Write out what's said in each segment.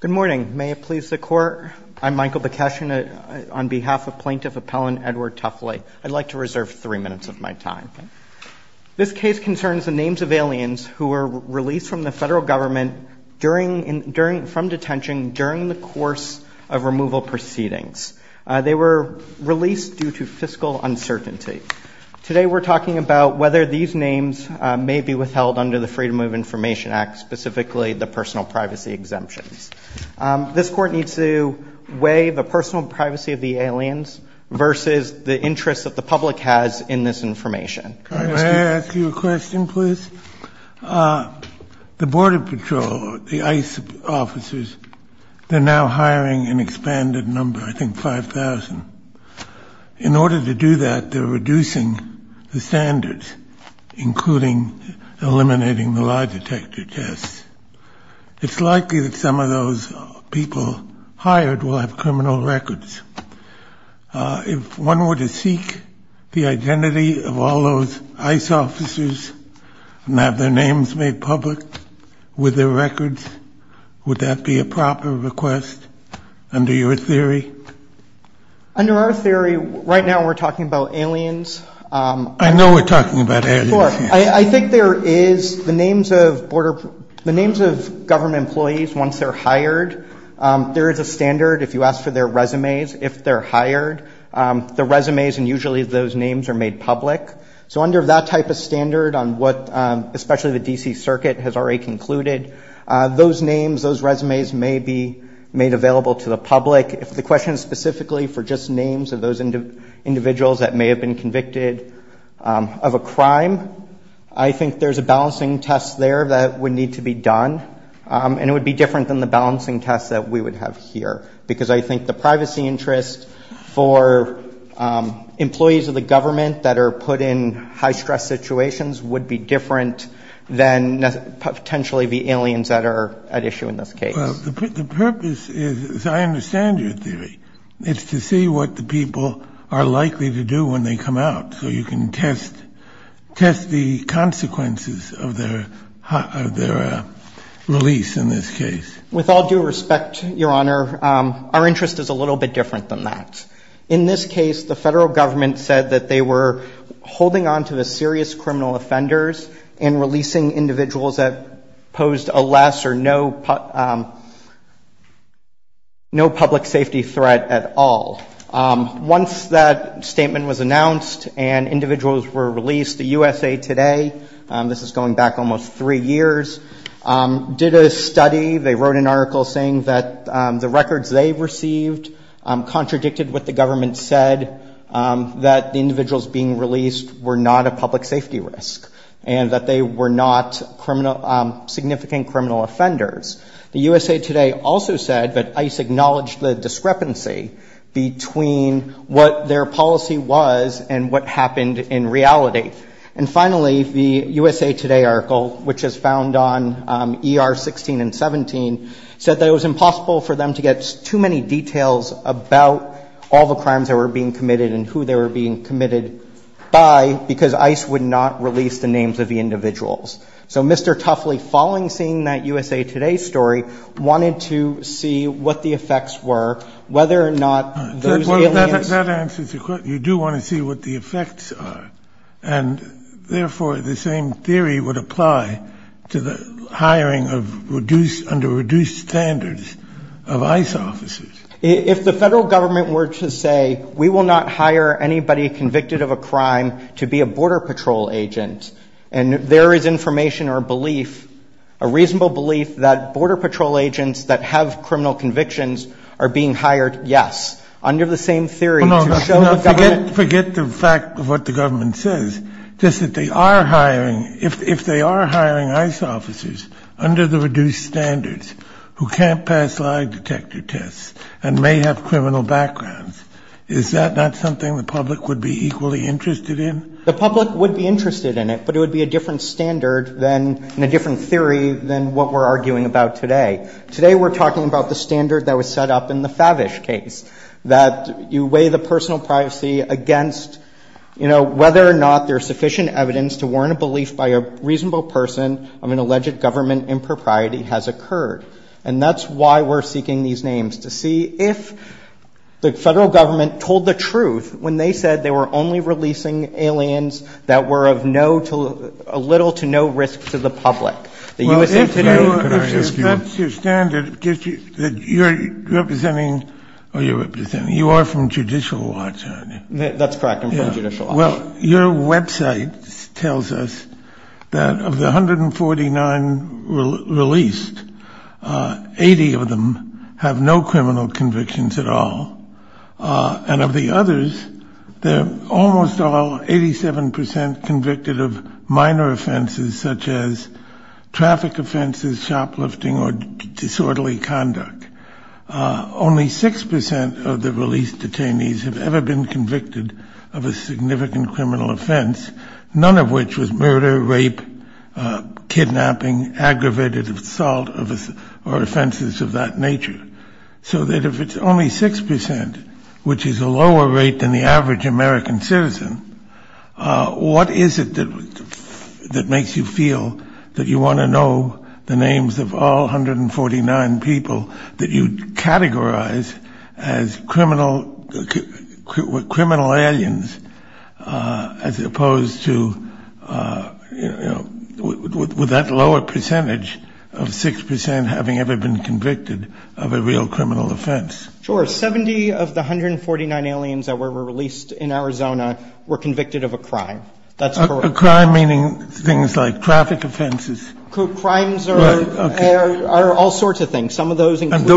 Good morning. May it please the Court, I'm Michael Bekeshian on behalf of Plaintiff Appellant Edward Tuffly. I'd like to reserve three minutes of my time. This case concerns the names of aliens who were released from the federal government from detention during the course of removal proceedings. They were released due to fiscal uncertainty. Today we're talking about whether these names may be withheld under the Freedom of Information Act, specifically the personal privacy exemptions. This Court needs to weigh the personal privacy of the aliens versus the interests that the public has in this information. May I ask you a question, please? The Border Patrol, the ICE officers, they're now hiring an expanded number, I think 5,000. In order to do that, they're reducing the standards, including eliminating the lie detector tests. It's likely that some of those people hired will have criminal records. If one were to seek the identity of all those ICE officers and have their names made public with their records, would that be a proper request under your theory? Under our theory, right now we're talking about aliens. I know we're talking about aliens. I think there is, the names of government employees once they're hired, there is a standard if you ask for their resumes, if they're hired, their resumes and usually those names are made public. So under that type of standard on what, especially the D.C. Circuit has already concluded, those names, those resumes may be made available to the public. If the question specifically for just names of those individuals that may have been convicted of a crime, I think there's a balancing test there that would need to be done. And it would be different than the balancing test that we would have here, because I think the privacy interest for employees of the government that are put in high-stress situations would be different than potentially the aliens that are at issue in this case. Well, the purpose is, as I understand your theory, it's to see what the people are likely to do when they come out. So you can test the consequences of their release in this case. With all due respect, Your Honor, our interest is a little bit different than that. In this case, the federal government said that they were holding on to the serious criminal offenders and releasing individuals that posed a less or no public safety threat at all. Once that statement was announced and individuals were released to USA Today, this is going back almost three years, did a study, they wrote an article saying that the records they received contradicted what the government said, that the individuals being released were not a public safety risk and that they were not significant criminal offenders. The USA Today also said that ICE acknowledged the discrepancy between what their policy was and what happened in reality. And finally, the USA Today article, which is found on ER 16 and 17, said that it was impossible for them to get too many details about all the crimes that were being committed and who they were being committed by because ICE would not release the names of the individuals. So Mr. Tuffley, following seeing that USA Today story, wanted to see what the effects were, whether or not those aliens... That answers the question. You do want to see what the effects are. And therefore, the same theory would apply to the hiring of reduced, under reduced standards of ICE officers. If the federal government were to say, we will not hire anybody convicted of a crime to be a border patrol agent, and there is information or belief, a reasonable belief that border patrol agents that have criminal convictions are being hired, yes. Under the same theory... No, forget the fact of what the government says, just that they are hiring, if they are and may have criminal backgrounds. Is that not something the public would be equally interested in? The public would be interested in it, but it would be a different standard than, and a different theory than what we're arguing about today. Today, we're talking about the standard that was set up in the Favish case, that you weigh the personal privacy against, you know, whether or not there's sufficient evidence to warrant a belief by a reasonable person of an alleged government impropriety has occurred. And that's why we're seeking these names, to see if the federal government told the truth when they said they were only releasing aliens that were of no, a little to no risk to the public. Well, if that's your standard, that you're representing, or you're representing, you are from Judicial Watch, aren't you? That's correct, I'm from Judicial Watch. Well, your website tells us that of the 149 released, 80 of them have no criminal convictions at all. And of the others, they're almost all, 87% convicted of minor offenses, such as traffic offenses, shoplifting, or disorderly conduct. Only 6% of the released detainees have ever been convicted of a significant criminal offense, none of which was murder, rape, kidnapping, aggravated assault, or offenses of that nature. So that if it's only 6%, which is a lower rate than the average American citizen, what is it that makes you feel that you want to know the names of all 149 people that you'd categorize as criminal aliens, as opposed to, you know, with that lower percentage of 6% having ever been convicted of a real criminal offense? Sure, 70 of the 149 aliens that were released in Arizona were convicted of a crime. That's correct. A crime meaning things like traffic offenses? Crimes are all sorts of things. Some of those include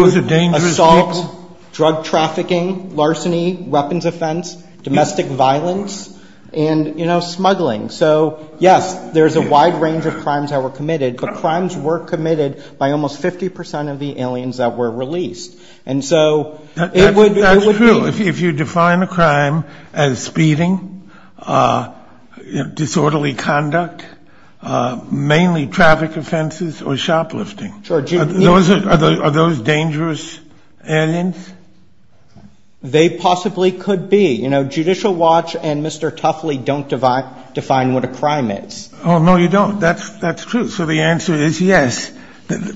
assault, drug trafficking, larceny, weapons offense, domestic violence, and, you know, smuggling. So, yes, there's a wide range of crimes that were committed, but crimes were committed by almost 50% of the aliens that were released. And so it would be... ...totally conduct, mainly traffic offenses, or shoplifting. Are those dangerous aliens? They possibly could be. You know, Judicial Watch and Mr. Tuffley don't define what a crime is. Oh, no, you don't. That's true. So the answer is yes,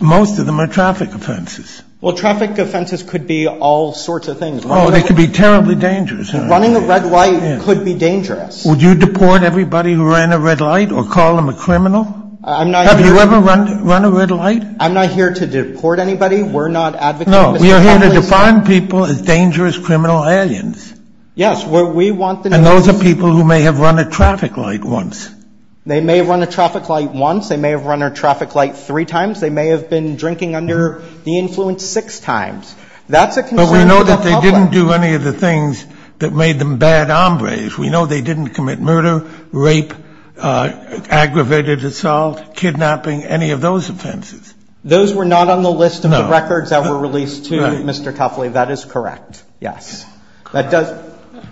most of them are traffic offenses. Well, traffic offenses could be all sorts of things. Oh, they could be terribly dangerous. Running a red light could be dangerous. Would you deport everybody who ran a red light or call them a criminal? I'm not... Have you ever run a red light? I'm not here to deport anybody. We're not advocating Mr. Tuffley's... No, we are here to define people as dangerous criminal aliens. Yes, we want the... And those are people who may have run a traffic light once. They may have run a traffic light once. They may have run a traffic light three times. They may have been drinking under the influence six times. That's a concern for the public. But we know that they didn't do any of the things that made them bad hombres. We know they didn't commit murder, rape, aggravated assault, kidnapping, any of those offenses. Those were not on the list of the records that were released to Mr. Tuffley. That is correct. Yes. That does...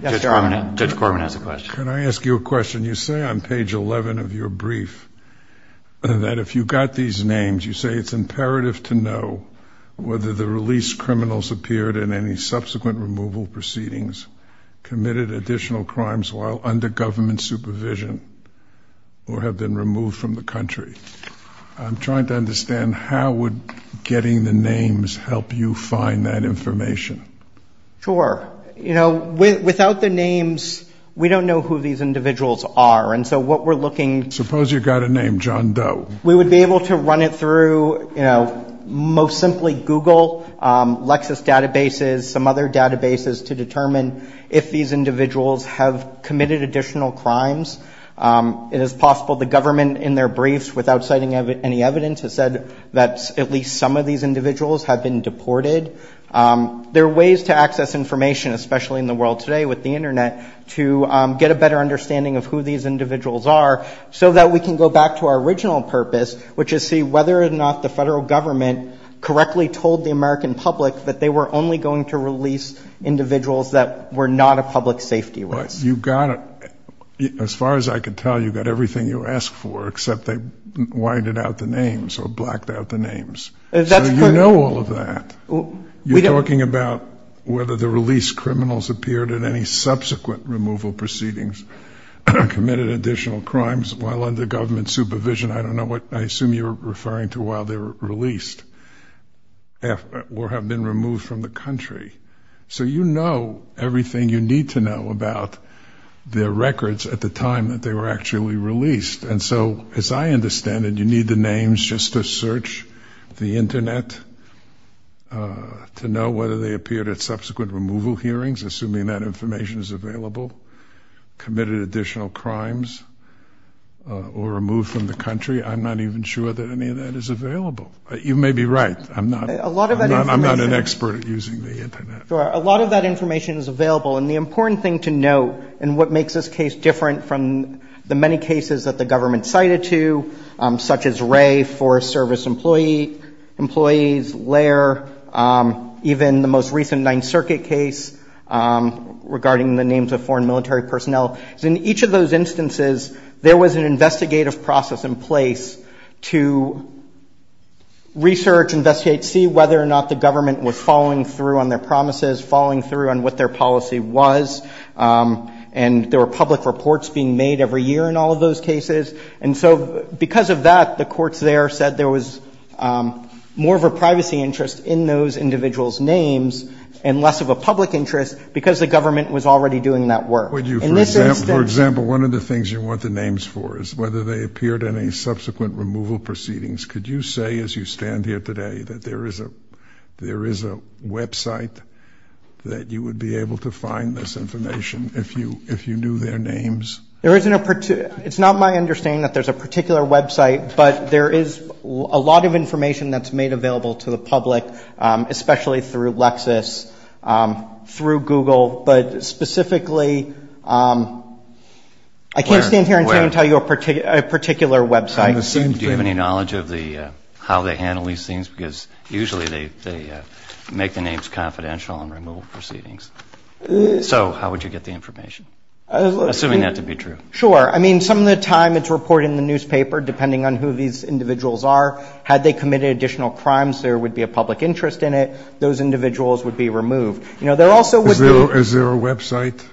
Judge Corman has a question. Can I ask you a question? You say on page 11 of your brief that if you got these names, you say it's imperative to know whether the released criminals appeared in any subsequent removal proceedings, committed additional crimes while under government supervision, or have been removed from the country. I'm trying to understand how would getting the names help you find that information? Sure. Without the names, we don't know who these individuals are. And so what we're looking... Suppose you got a name, John Doe. We would be able to run it through most simply Google, Lexis databases, some other databases to determine if these individuals have committed additional crimes. It is possible the government in their briefs, without citing any evidence, has said that at least some of these individuals have been deported. There are ways to access information, especially in the world today with the internet, to get a better understanding of who these individuals are so that we can go back to our original purpose, which is to see whether or not the federal government correctly told the American public that they were only going to release individuals that were not a public safety risk. You got it. As far as I can tell, you got everything you asked for, except they whited out the names or blacked out the names. So you know all of that. You're talking about whether the released criminals appeared in any subsequent removal proceedings, committed additional crimes while under government supervision. I don't know what I assume you're referring to while they were released or have been removed from the country. So you know everything you need to know about their records at the time that they were actually released. And so, as I understand it, you need the names just to search the internet to know whether they appeared at subsequent removal hearings, assuming that information is available, committed additional crimes, or removed from the country. I'm not even sure that any of that is available. You may be right. I'm not an expert at using the internet. A lot of that information is available. And the important thing to note, and what makes this case different from the many cases that the government cited to, such as Wray, Forest Service employees, Lair, even the most recent Ninth Circuit case regarding the names of foreign military personnel, is in each of those instances there was an investigative process in place to research, investigate, see whether or not the government was following through on their promises, following through on what their policy was. And there were public reports being made every year in all of those cases. And so because of that, the courts there said there was more of a privacy interest in those cases than there was a public interest, because the government was already doing that work. For example, one of the things you want the names for is whether they appeared in any subsequent removal proceedings. Could you say, as you stand here today, that there is a website that you would be able to find this information if you knew their names? It's not my understanding that there's a particular website, but there is a lot of information through Google. But specifically, I can't stand here and tell you a particular website. Do you have any knowledge of how they handle these things? Because usually they make the names confidential on removal proceedings. So how would you get the information, assuming that to be true? Sure. I mean, some of the time it's reported in the newspaper, depending on who these individuals are. Had they committed additional crimes, there would be a public interest in it. Those individuals would be removed. Is there a website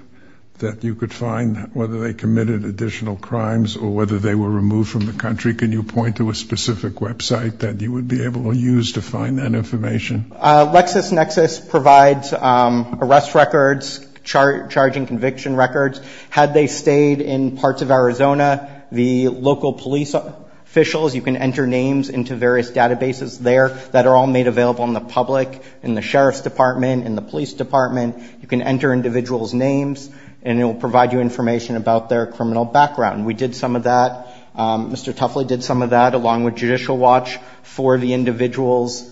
that you could find whether they committed additional crimes or whether they were removed from the country? Can you point to a specific website that you would be able to use to find that information? LexisNexis provides arrest records, charging conviction records. Had they stayed in parts of Arizona, the local police officials, you can enter names into various databases there that are all made available in the public, in the sheriff's department, in the police department. You can enter individuals' names, and it will provide you information about their criminal background. We did some of that. Mr. Tuffley did some of that, along with Judicial Watch, for the individuals.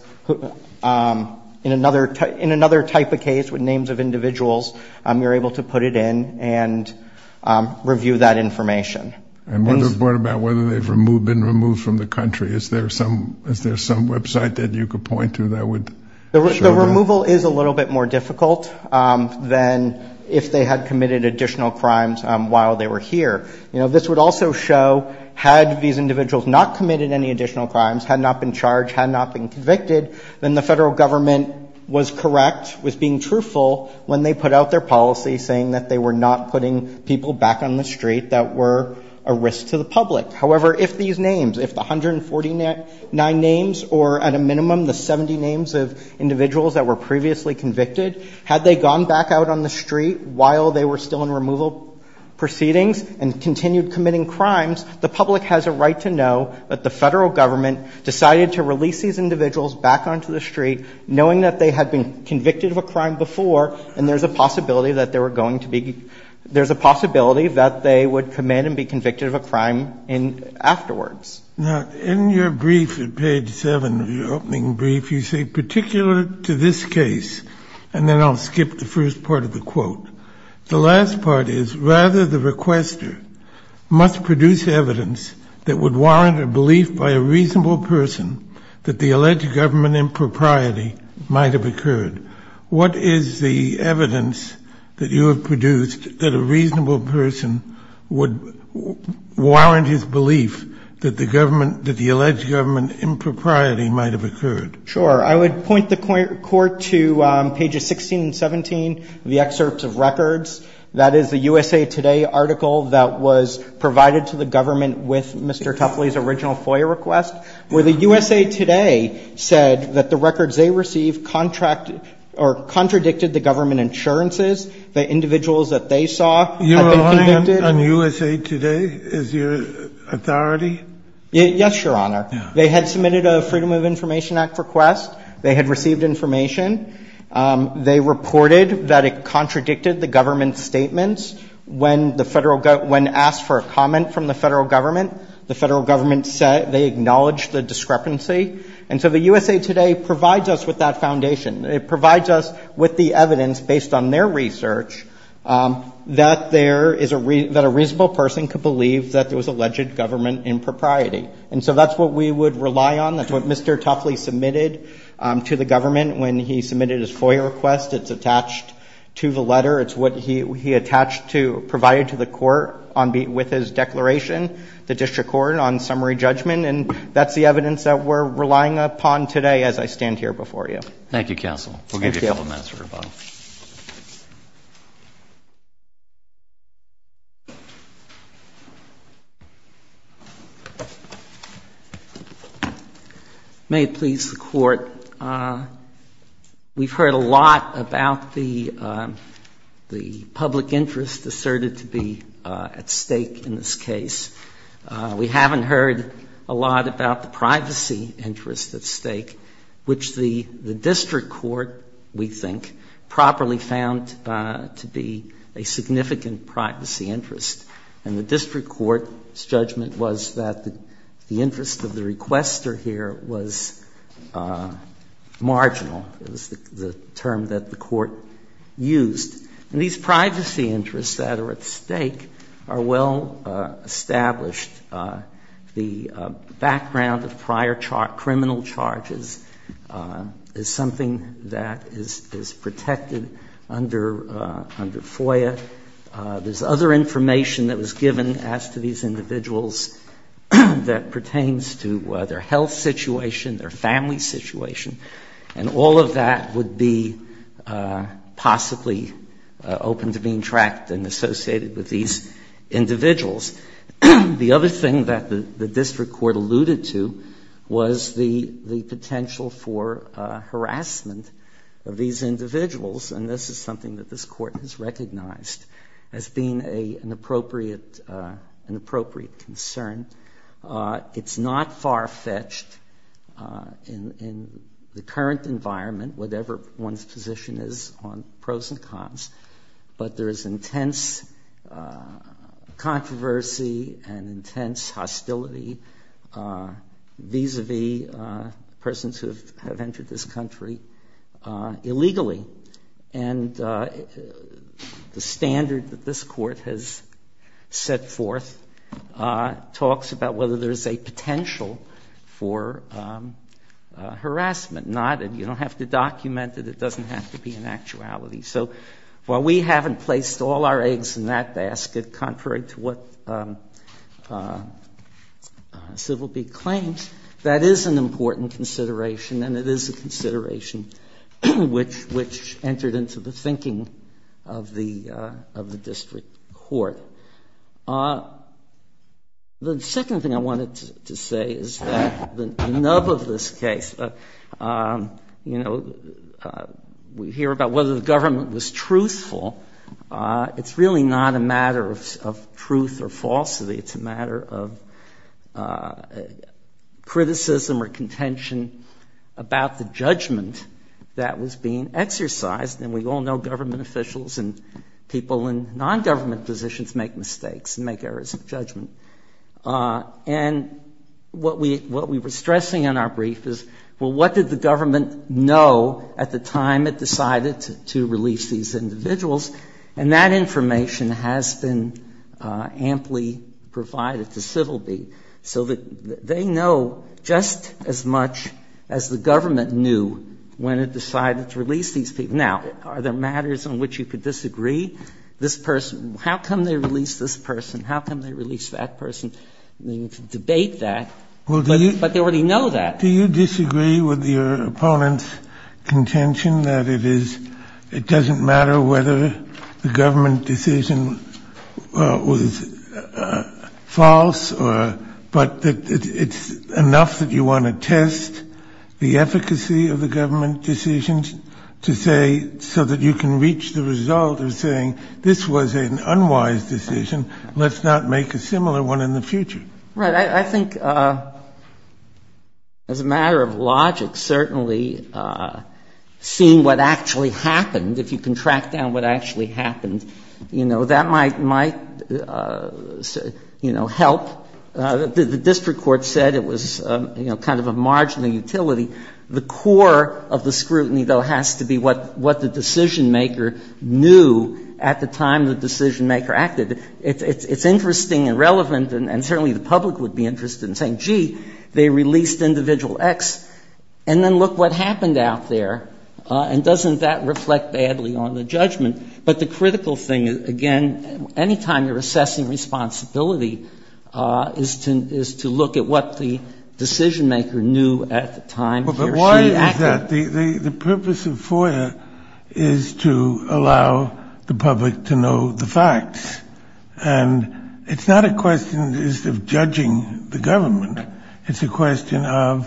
In another type of case, with names of individuals, you're able to put it in and review that information. And what about whether they've been removed from the country? Is there some website that you could point to that would show that? The removal is a little bit more difficult than if they had committed additional crimes while they were here. This would also show, had these individuals not committed any additional crimes, had not been charged, had not been convicted, then the federal government was correct, was being truthful, when they put out their policy saying that they were not putting people back on the street that were a risk to the community. Had they gone back out on the street while they were still in removal proceedings and continued committing crimes, the public has a right to know that the federal government decided to release these individuals back onto the street, knowing that they had been convicted of a crime before, and there's a possibility that they were going to be ‑‑ there's a possibility that they would come in and be convicted of a crime afterwards. Now, in your brief at page 7 of your opening brief, you say, particular to this case, and then I'll skip the first part of the quote. The last part is, rather the requester must produce evidence that would warrant a belief by a reasonable person that the alleged government impropriety might have occurred. What is the I would point the court to pages 16 and 17 of the excerpts of records. That is the USA Today article that was provided to the government with Mr. Tuffley's original FOIA request, where the USA Today said that the records they received contracted ‑‑ or contradicted the government insurances, the individuals that they saw had been convicted. You're relying on USA Today as your authority? Yes, Your Honor. They had submitted a Freedom of Information Act request. They had received information. They reported that it contradicted the government's statements when the federal ‑‑ when asked for a comment from the federal government. The federal government said they acknowledged the discrepancy. And so the USA Today provides us with that foundation. It provides us with the evidence, based on their And so that's what we would rely on. That's what Mr. Tuffley submitted to the government when he submitted his FOIA request. It's attached to the letter. It's what he attached to, provided to the court with his declaration, the district court, on summary judgment. And that's the evidence that we're relying upon today as I stand here before you. Thank you, counsel. We'll give you a couple minutes for rebuttal. May it please the court, we've heard a lot about the public interest asserted to be at stake in this case. We haven't heard a lot about the privacy interest at stake, which the district court, we think, properly found to be a significant privacy interest. And the district court's judgment was that the interest of the requester here was marginal. It was the term that the court used. And these privacy interests that are at stake are well established. The background of prior criminal charges is something that is protected under FOIA. There's other information that was that pertains to their health situation, their family situation. And all of that would be possibly open to being tracked and associated with these individuals. The other thing that the district court alluded to was the potential for harassment of these individuals. And this is something that this court has recognized as being an appropriate concern. It's not far-fetched in the current environment, whatever one's position is on pros and cons, but there is intense controversy and intense hostility vis-a-vis persons who have entered this country illegally. And the standard that this court has set forth talks about whether there's a potential for harassment. You don't have to document it. It doesn't have to be an actuality. So while we haven't placed all our eggs in that basket, contrary to what important consideration, and it is a consideration which entered into the thinking of the district court. The second thing I wanted to say is that the nub of this case, we hear about whether the government was truthful. It's really not a matter of truth or falsity. It's a matter of criticism or contention about the judgment that was being exercised. And we all know government officials and people in non-government positions make mistakes and make errors of judgment. And what we were stressing in our brief is, well, what did the government know at the time it decided to release these individuals? And that information has been amply provided to Civilbee. So they know just as much as the government knew when it decided to release these people. Now, are there matters on which you could disagree? This person, how come they released this person? How come they released that person? You can debate that, but they already know that. Do you disagree with your opponent's contention that it is, it doesn't matter whether the judgment is false or, but that it's enough that you want to test the efficacy of the government decisions to say, so that you can reach the result of saying this was an unwise decision, let's not make a similar one in the future? Right. I think as a matter of logic, certainly seeing what actually happened, if you can track down what actually happened, you know, that might, might, you know, help. The district court said it was, you know, kind of a marginal utility. The core of the scrutiny, though, has to be what the decisionmaker knew at the time the decisionmaker acted. It's interesting and relevant, and certainly the public would be interested in saying, gee, they released individual X, and then look what happened out there. And doesn't that reflect badly on the judgment? But the critical thing, again, any time you're assessing responsibility is to look at what the decisionmaker knew at the time he or she acted. But why is that? The purpose of FOIA is to allow the public to know the facts, and it's not a question just of judging the government. It's a question of,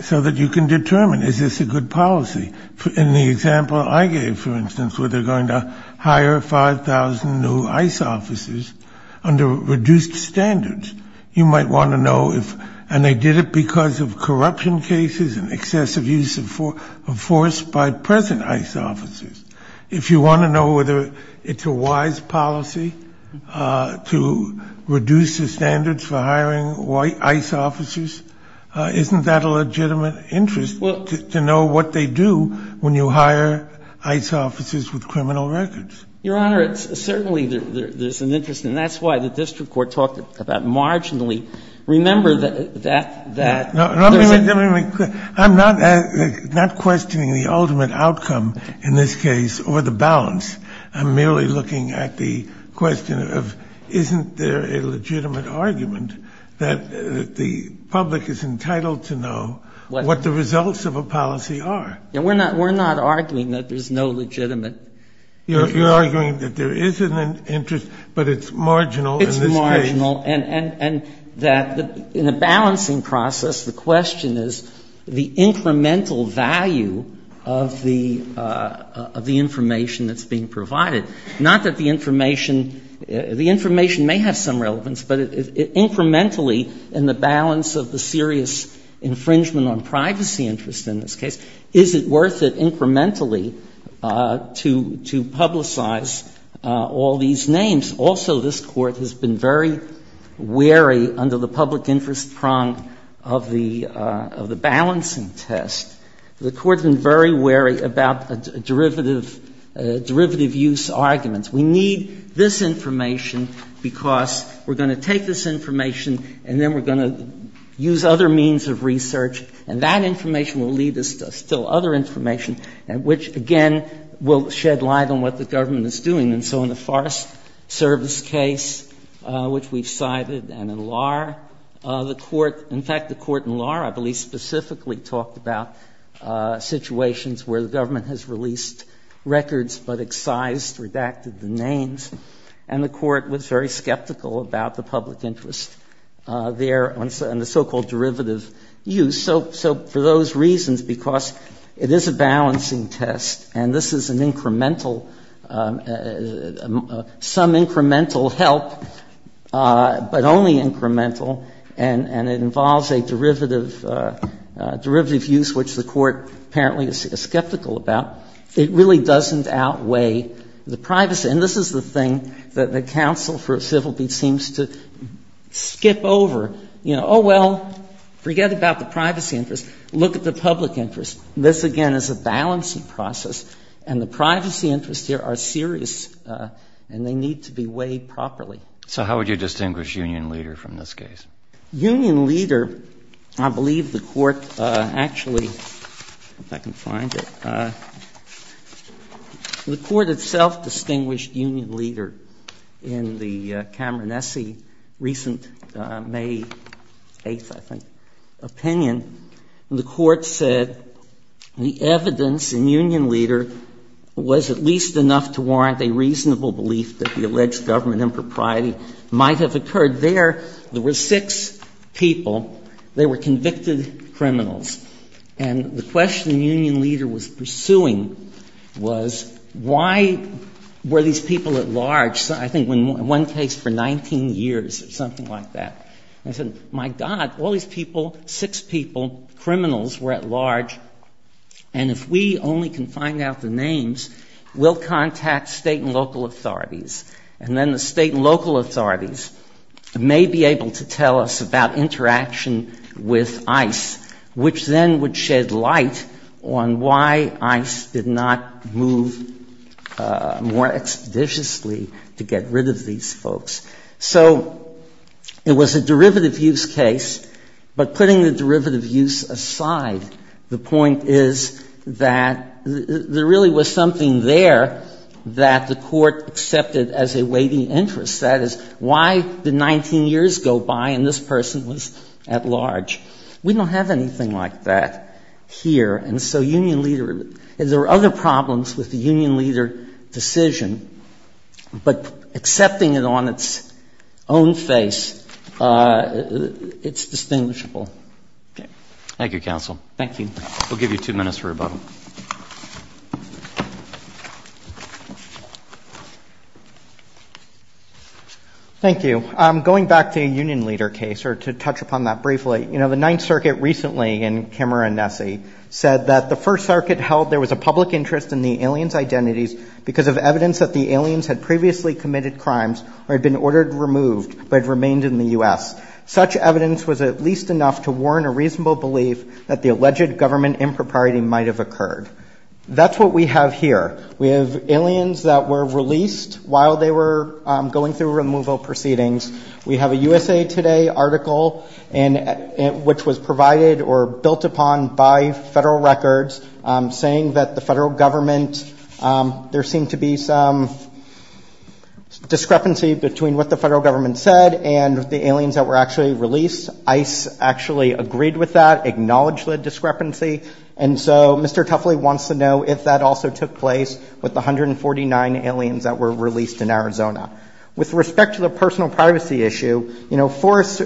so that you can determine, is this a good policy? In the example I gave, for instance, where they're going to hire 5,000 new ICE officers under reduced standards, you might want to know if, and they did it because of corruption cases and excessive use of force by present ICE officers. If you want to know whether it's a wise policy to reduce the standards for hiring ICE officers, isn't that a legitimate interest to know what they do when you hire ICE officers with criminal records? Your Honor, it's certainly there's an interest, and that's why the district court talked about marginally. Remember that that there's a question. I'm not questioning the ultimate outcome in this case or the balance. I'm merely looking at the question of, isn't there a legitimate argument that the public is entitled to know what the results of a policy are? We're not arguing that there's no legitimate interest. You're arguing that there is an interest, but it's marginal in this case. It's marginal, and that in a balancing process, the question is the incremental value of the information that's being provided, not that the information may have some relevance, but incrementally in the balance of the serious infringement on privacy interest in this case, is it worth it incrementally to publicize all these names? Also, this Court has been very wary under the public interest prong of the balancing test. The Court has been very wary about derivative use arguments. We need this information because we're going to take this information and then we're going to use other means of research, and that information will lead us to still other information, which, again, will shed light on what the government is doing. And so in the Forest Service case, which we've cited, and in Lahr, the Court – in fact, the Court in Lahr, I believe, specifically talked about situations where the government has released records but excised, redacted the names, and the Court was very skeptical about the public interest there and the so-called derivative use. So for those reasons, because it is a balancing test and this is an incremental – some incremental help, but only incremental, and it involves a derivative – derivative use, which the Court apparently is skeptical about, it really doesn't outweigh the privacy. And this is the thing that the counsel for civility seems to skip over. You know, oh, well, forget about the privacy interest. Look at the public interest. This, again, is a balancing process, and the privacy interests here are serious and they need to be weighed properly. So how would you distinguish union leader from this case? Union leader, I believe the Court actually – if I can find it – the Court itself distinguished union leader in the Cameron-Essie recent May 8th, I think, opinion. The Court said the evidence in union leader was at least enough to warrant a reasonable belief that the alleged government impropriety might have occurred. There, there were six people. They were convicted criminals. And the question the union leader was pursuing was why were these people at large – I think in one case for 19 years or something like that. And he said, my God, all these people, six people, criminals were at large, and if we only can find out the names, we'll contact state and local authorities. And then the state and local authorities may be able to tell us about interaction with ICE, which then would shed light on why ICE did not move more expeditiously to get rid of these folks. So it was a derivative use case, but putting the derivative use aside, the point is that there really was something there that the Court accepted as a weighty interest. That is, why did 19 years go by and this person was at large? We don't have anything like that here. And so union leader – there were other problems with the union leader decision, but accepting it on its own face, it's distinguishable. Okay. Thank you, counsel. Thank you. We'll give you two minutes for rebuttal. Thank you. Going back to a union leader case, or to touch upon that briefly, you know, the Ninth Circuit recently in Kimmerer v. Nessie said that the First Circuit held there was a public interest in the aliens' identities because of evidence that the aliens had previously committed crimes or had been ordered removed but had remained in the U.S. Such evidence was at least enough to warn a reasonable belief that the alleged government impropriety might have occurred. That's what we have here. We have aliens that were released while they were going through removal proceedings. We have a USA Today article, which was provided or built upon by federal records saying that the federal government – there seemed to be some discrepancy between what the federal government said and the aliens that were actually released. ICE actually agreed with that, acknowledged the discrepancy. And so Mr. Tuffley wants to know if that also took place with the 149 aliens that were released in Arizona. With respect to the personal privacy issue, you know, Forest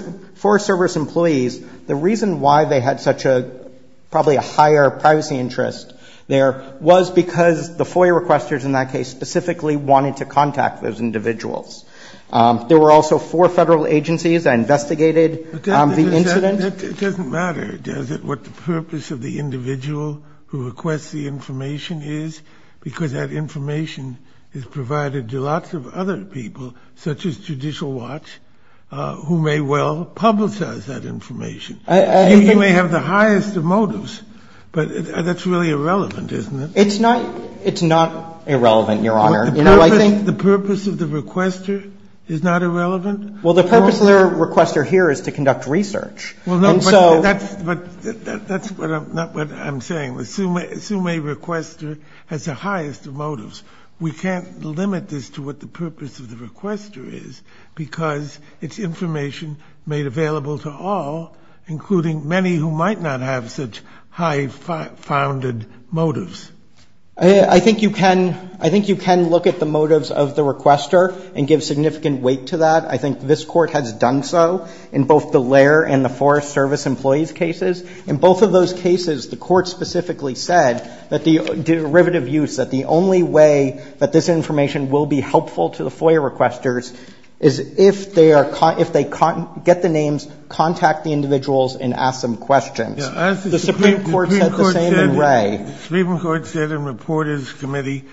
Service employees, the reason why they had such a – probably a higher privacy interest there was because the FOIA requesters in that case specifically wanted to contact those individuals. There were also four federal agencies that investigated the incident. It doesn't matter, does it, what the purpose of the individual who requests the information is, because that information is provided to lots of other people, such as Judicial Watch, who may well publicize that information. You may have the highest of motives, but that's really irrelevant, isn't it? It's not – it's not irrelevant, Your Honor. The purpose of the requester is not irrelevant? Well, the purpose of the requester here is to conduct research. Well, no, but that's – that's not what I'm saying. Assume a requester has the highest of motives. We can't limit this to what the purpose of the requester is, because it's information made available to all, including many who might not have such high-founded motives. I think you can – I think you can look at the motives of the requester and give significant weight to that. I think this Court has done so in both the Lair and the Forest Service employees' cases. In both of those cases, the Court specifically said that the derivative use, that the only way that this information will be helpful to the FOIA requesters is if they are – if they get the names, contact the individuals and ask them questions. The Supreme Court said the same in Wray. The Supreme Court said in Reporters' Committee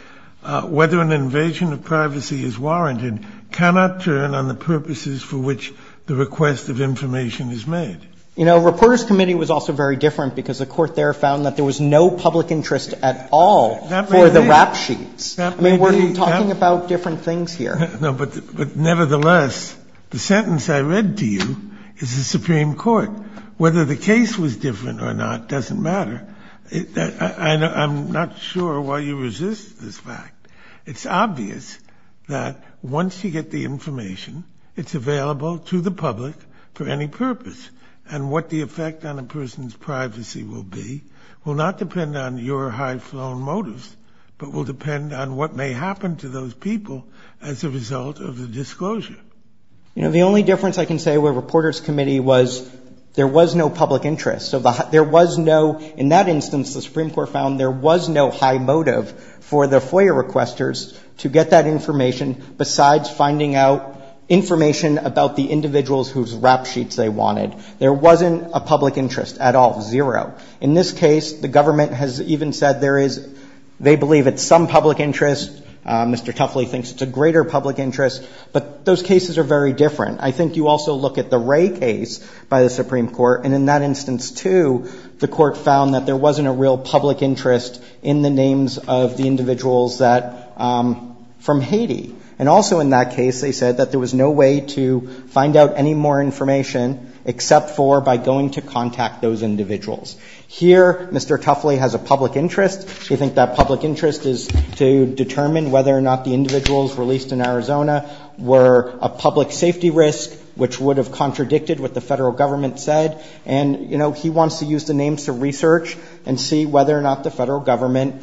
whether an invasion of privacy is warranted cannot turn on the purposes for which the request of information is made. You know, Reporters' Committee was also very different, because the Court there found that there was no public interest at all for the rap sheets. I mean, we're talking about different things here. No, but nevertheless, the sentence I read to you is the Supreme Court. Whether the case was different or not doesn't matter. I'm not sure why you resist this fact. It's obvious that once you get the information, it's available to the public for any purpose. And what the effect on a person's privacy will be will not depend on your high-flown motives, but will depend on what may happen to those people as a result of the disclosure. You know, the only difference I can say with Reporters' Committee was there was no public interest. There was no – in that instance, the Supreme Court found there was no high motive for the FOIA requesters to get that information besides finding out information about the individuals whose rap sheets they wanted. There wasn't a public interest at all. Zero. In this case, the government has even said there is – they believe it's some public interest. Mr. Tuffley thinks it's a greater public interest. But those cases are very different. I think you also look at the Ray case by the Supreme Court, and in that instance too, the Court found that there wasn't a real public interest in the names of the individuals that – from Haiti. And also in that case, they said that there was no way to find out any more information except for by going to contact those individuals. Here, Mr. Tuffley has a public interest. He thinks that public interest is to determine whether or not the individuals released in Arizona were a public safety risk, which would have contradicted what the Federal Government said. And, you know, he wants to use the names to research and see whether or not the Federal Government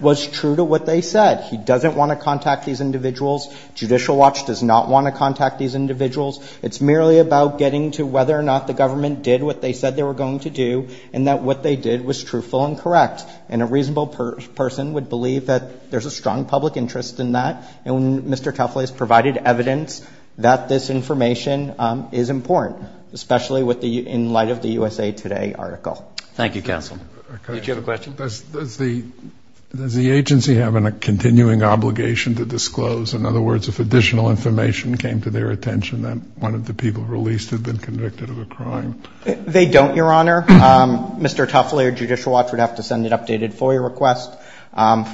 was true to what they said. He doesn't want to contact these individuals. Judicial Watch does not want to contact these individuals. It's merely about getting to whether or not the government did what they said they were going to do and that what they did was truthful and correct. And a reasonable person would believe that there's a strong public interest in that. And Mr. Tuffley has provided evidence that this information is important, especially with the – in light of the USA Today article. Thank you, counsel. Did you have a question? Does the agency have a continuing obligation to disclose? In other words, if additional information came to their attention that one of the people released had been convicted of a crime? They don't, Your Honor. Mr. Tuffley or Judicial Watch would have to send an updated FOIA request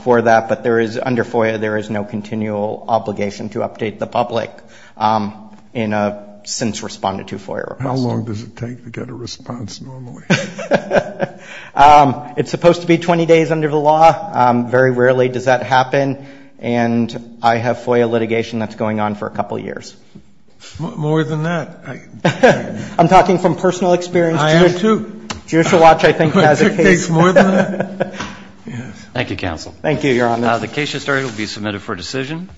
for that, but there is – under FOIA there is no continual obligation to update the public in a since-responded-to FOIA request. How long does it take to get a response normally? It's supposed to be 20 days under the law. Very rarely does that happen. And I have FOIA litigation that's going on for a couple years. More than that. I'm talking from personal experience. I am, too. Judicial Watch, I think, has a case. It takes more than that. Thank you, counsel. Thank you, Your Honor. The case history will be submitted for decision.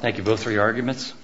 Thank you both for your arguments.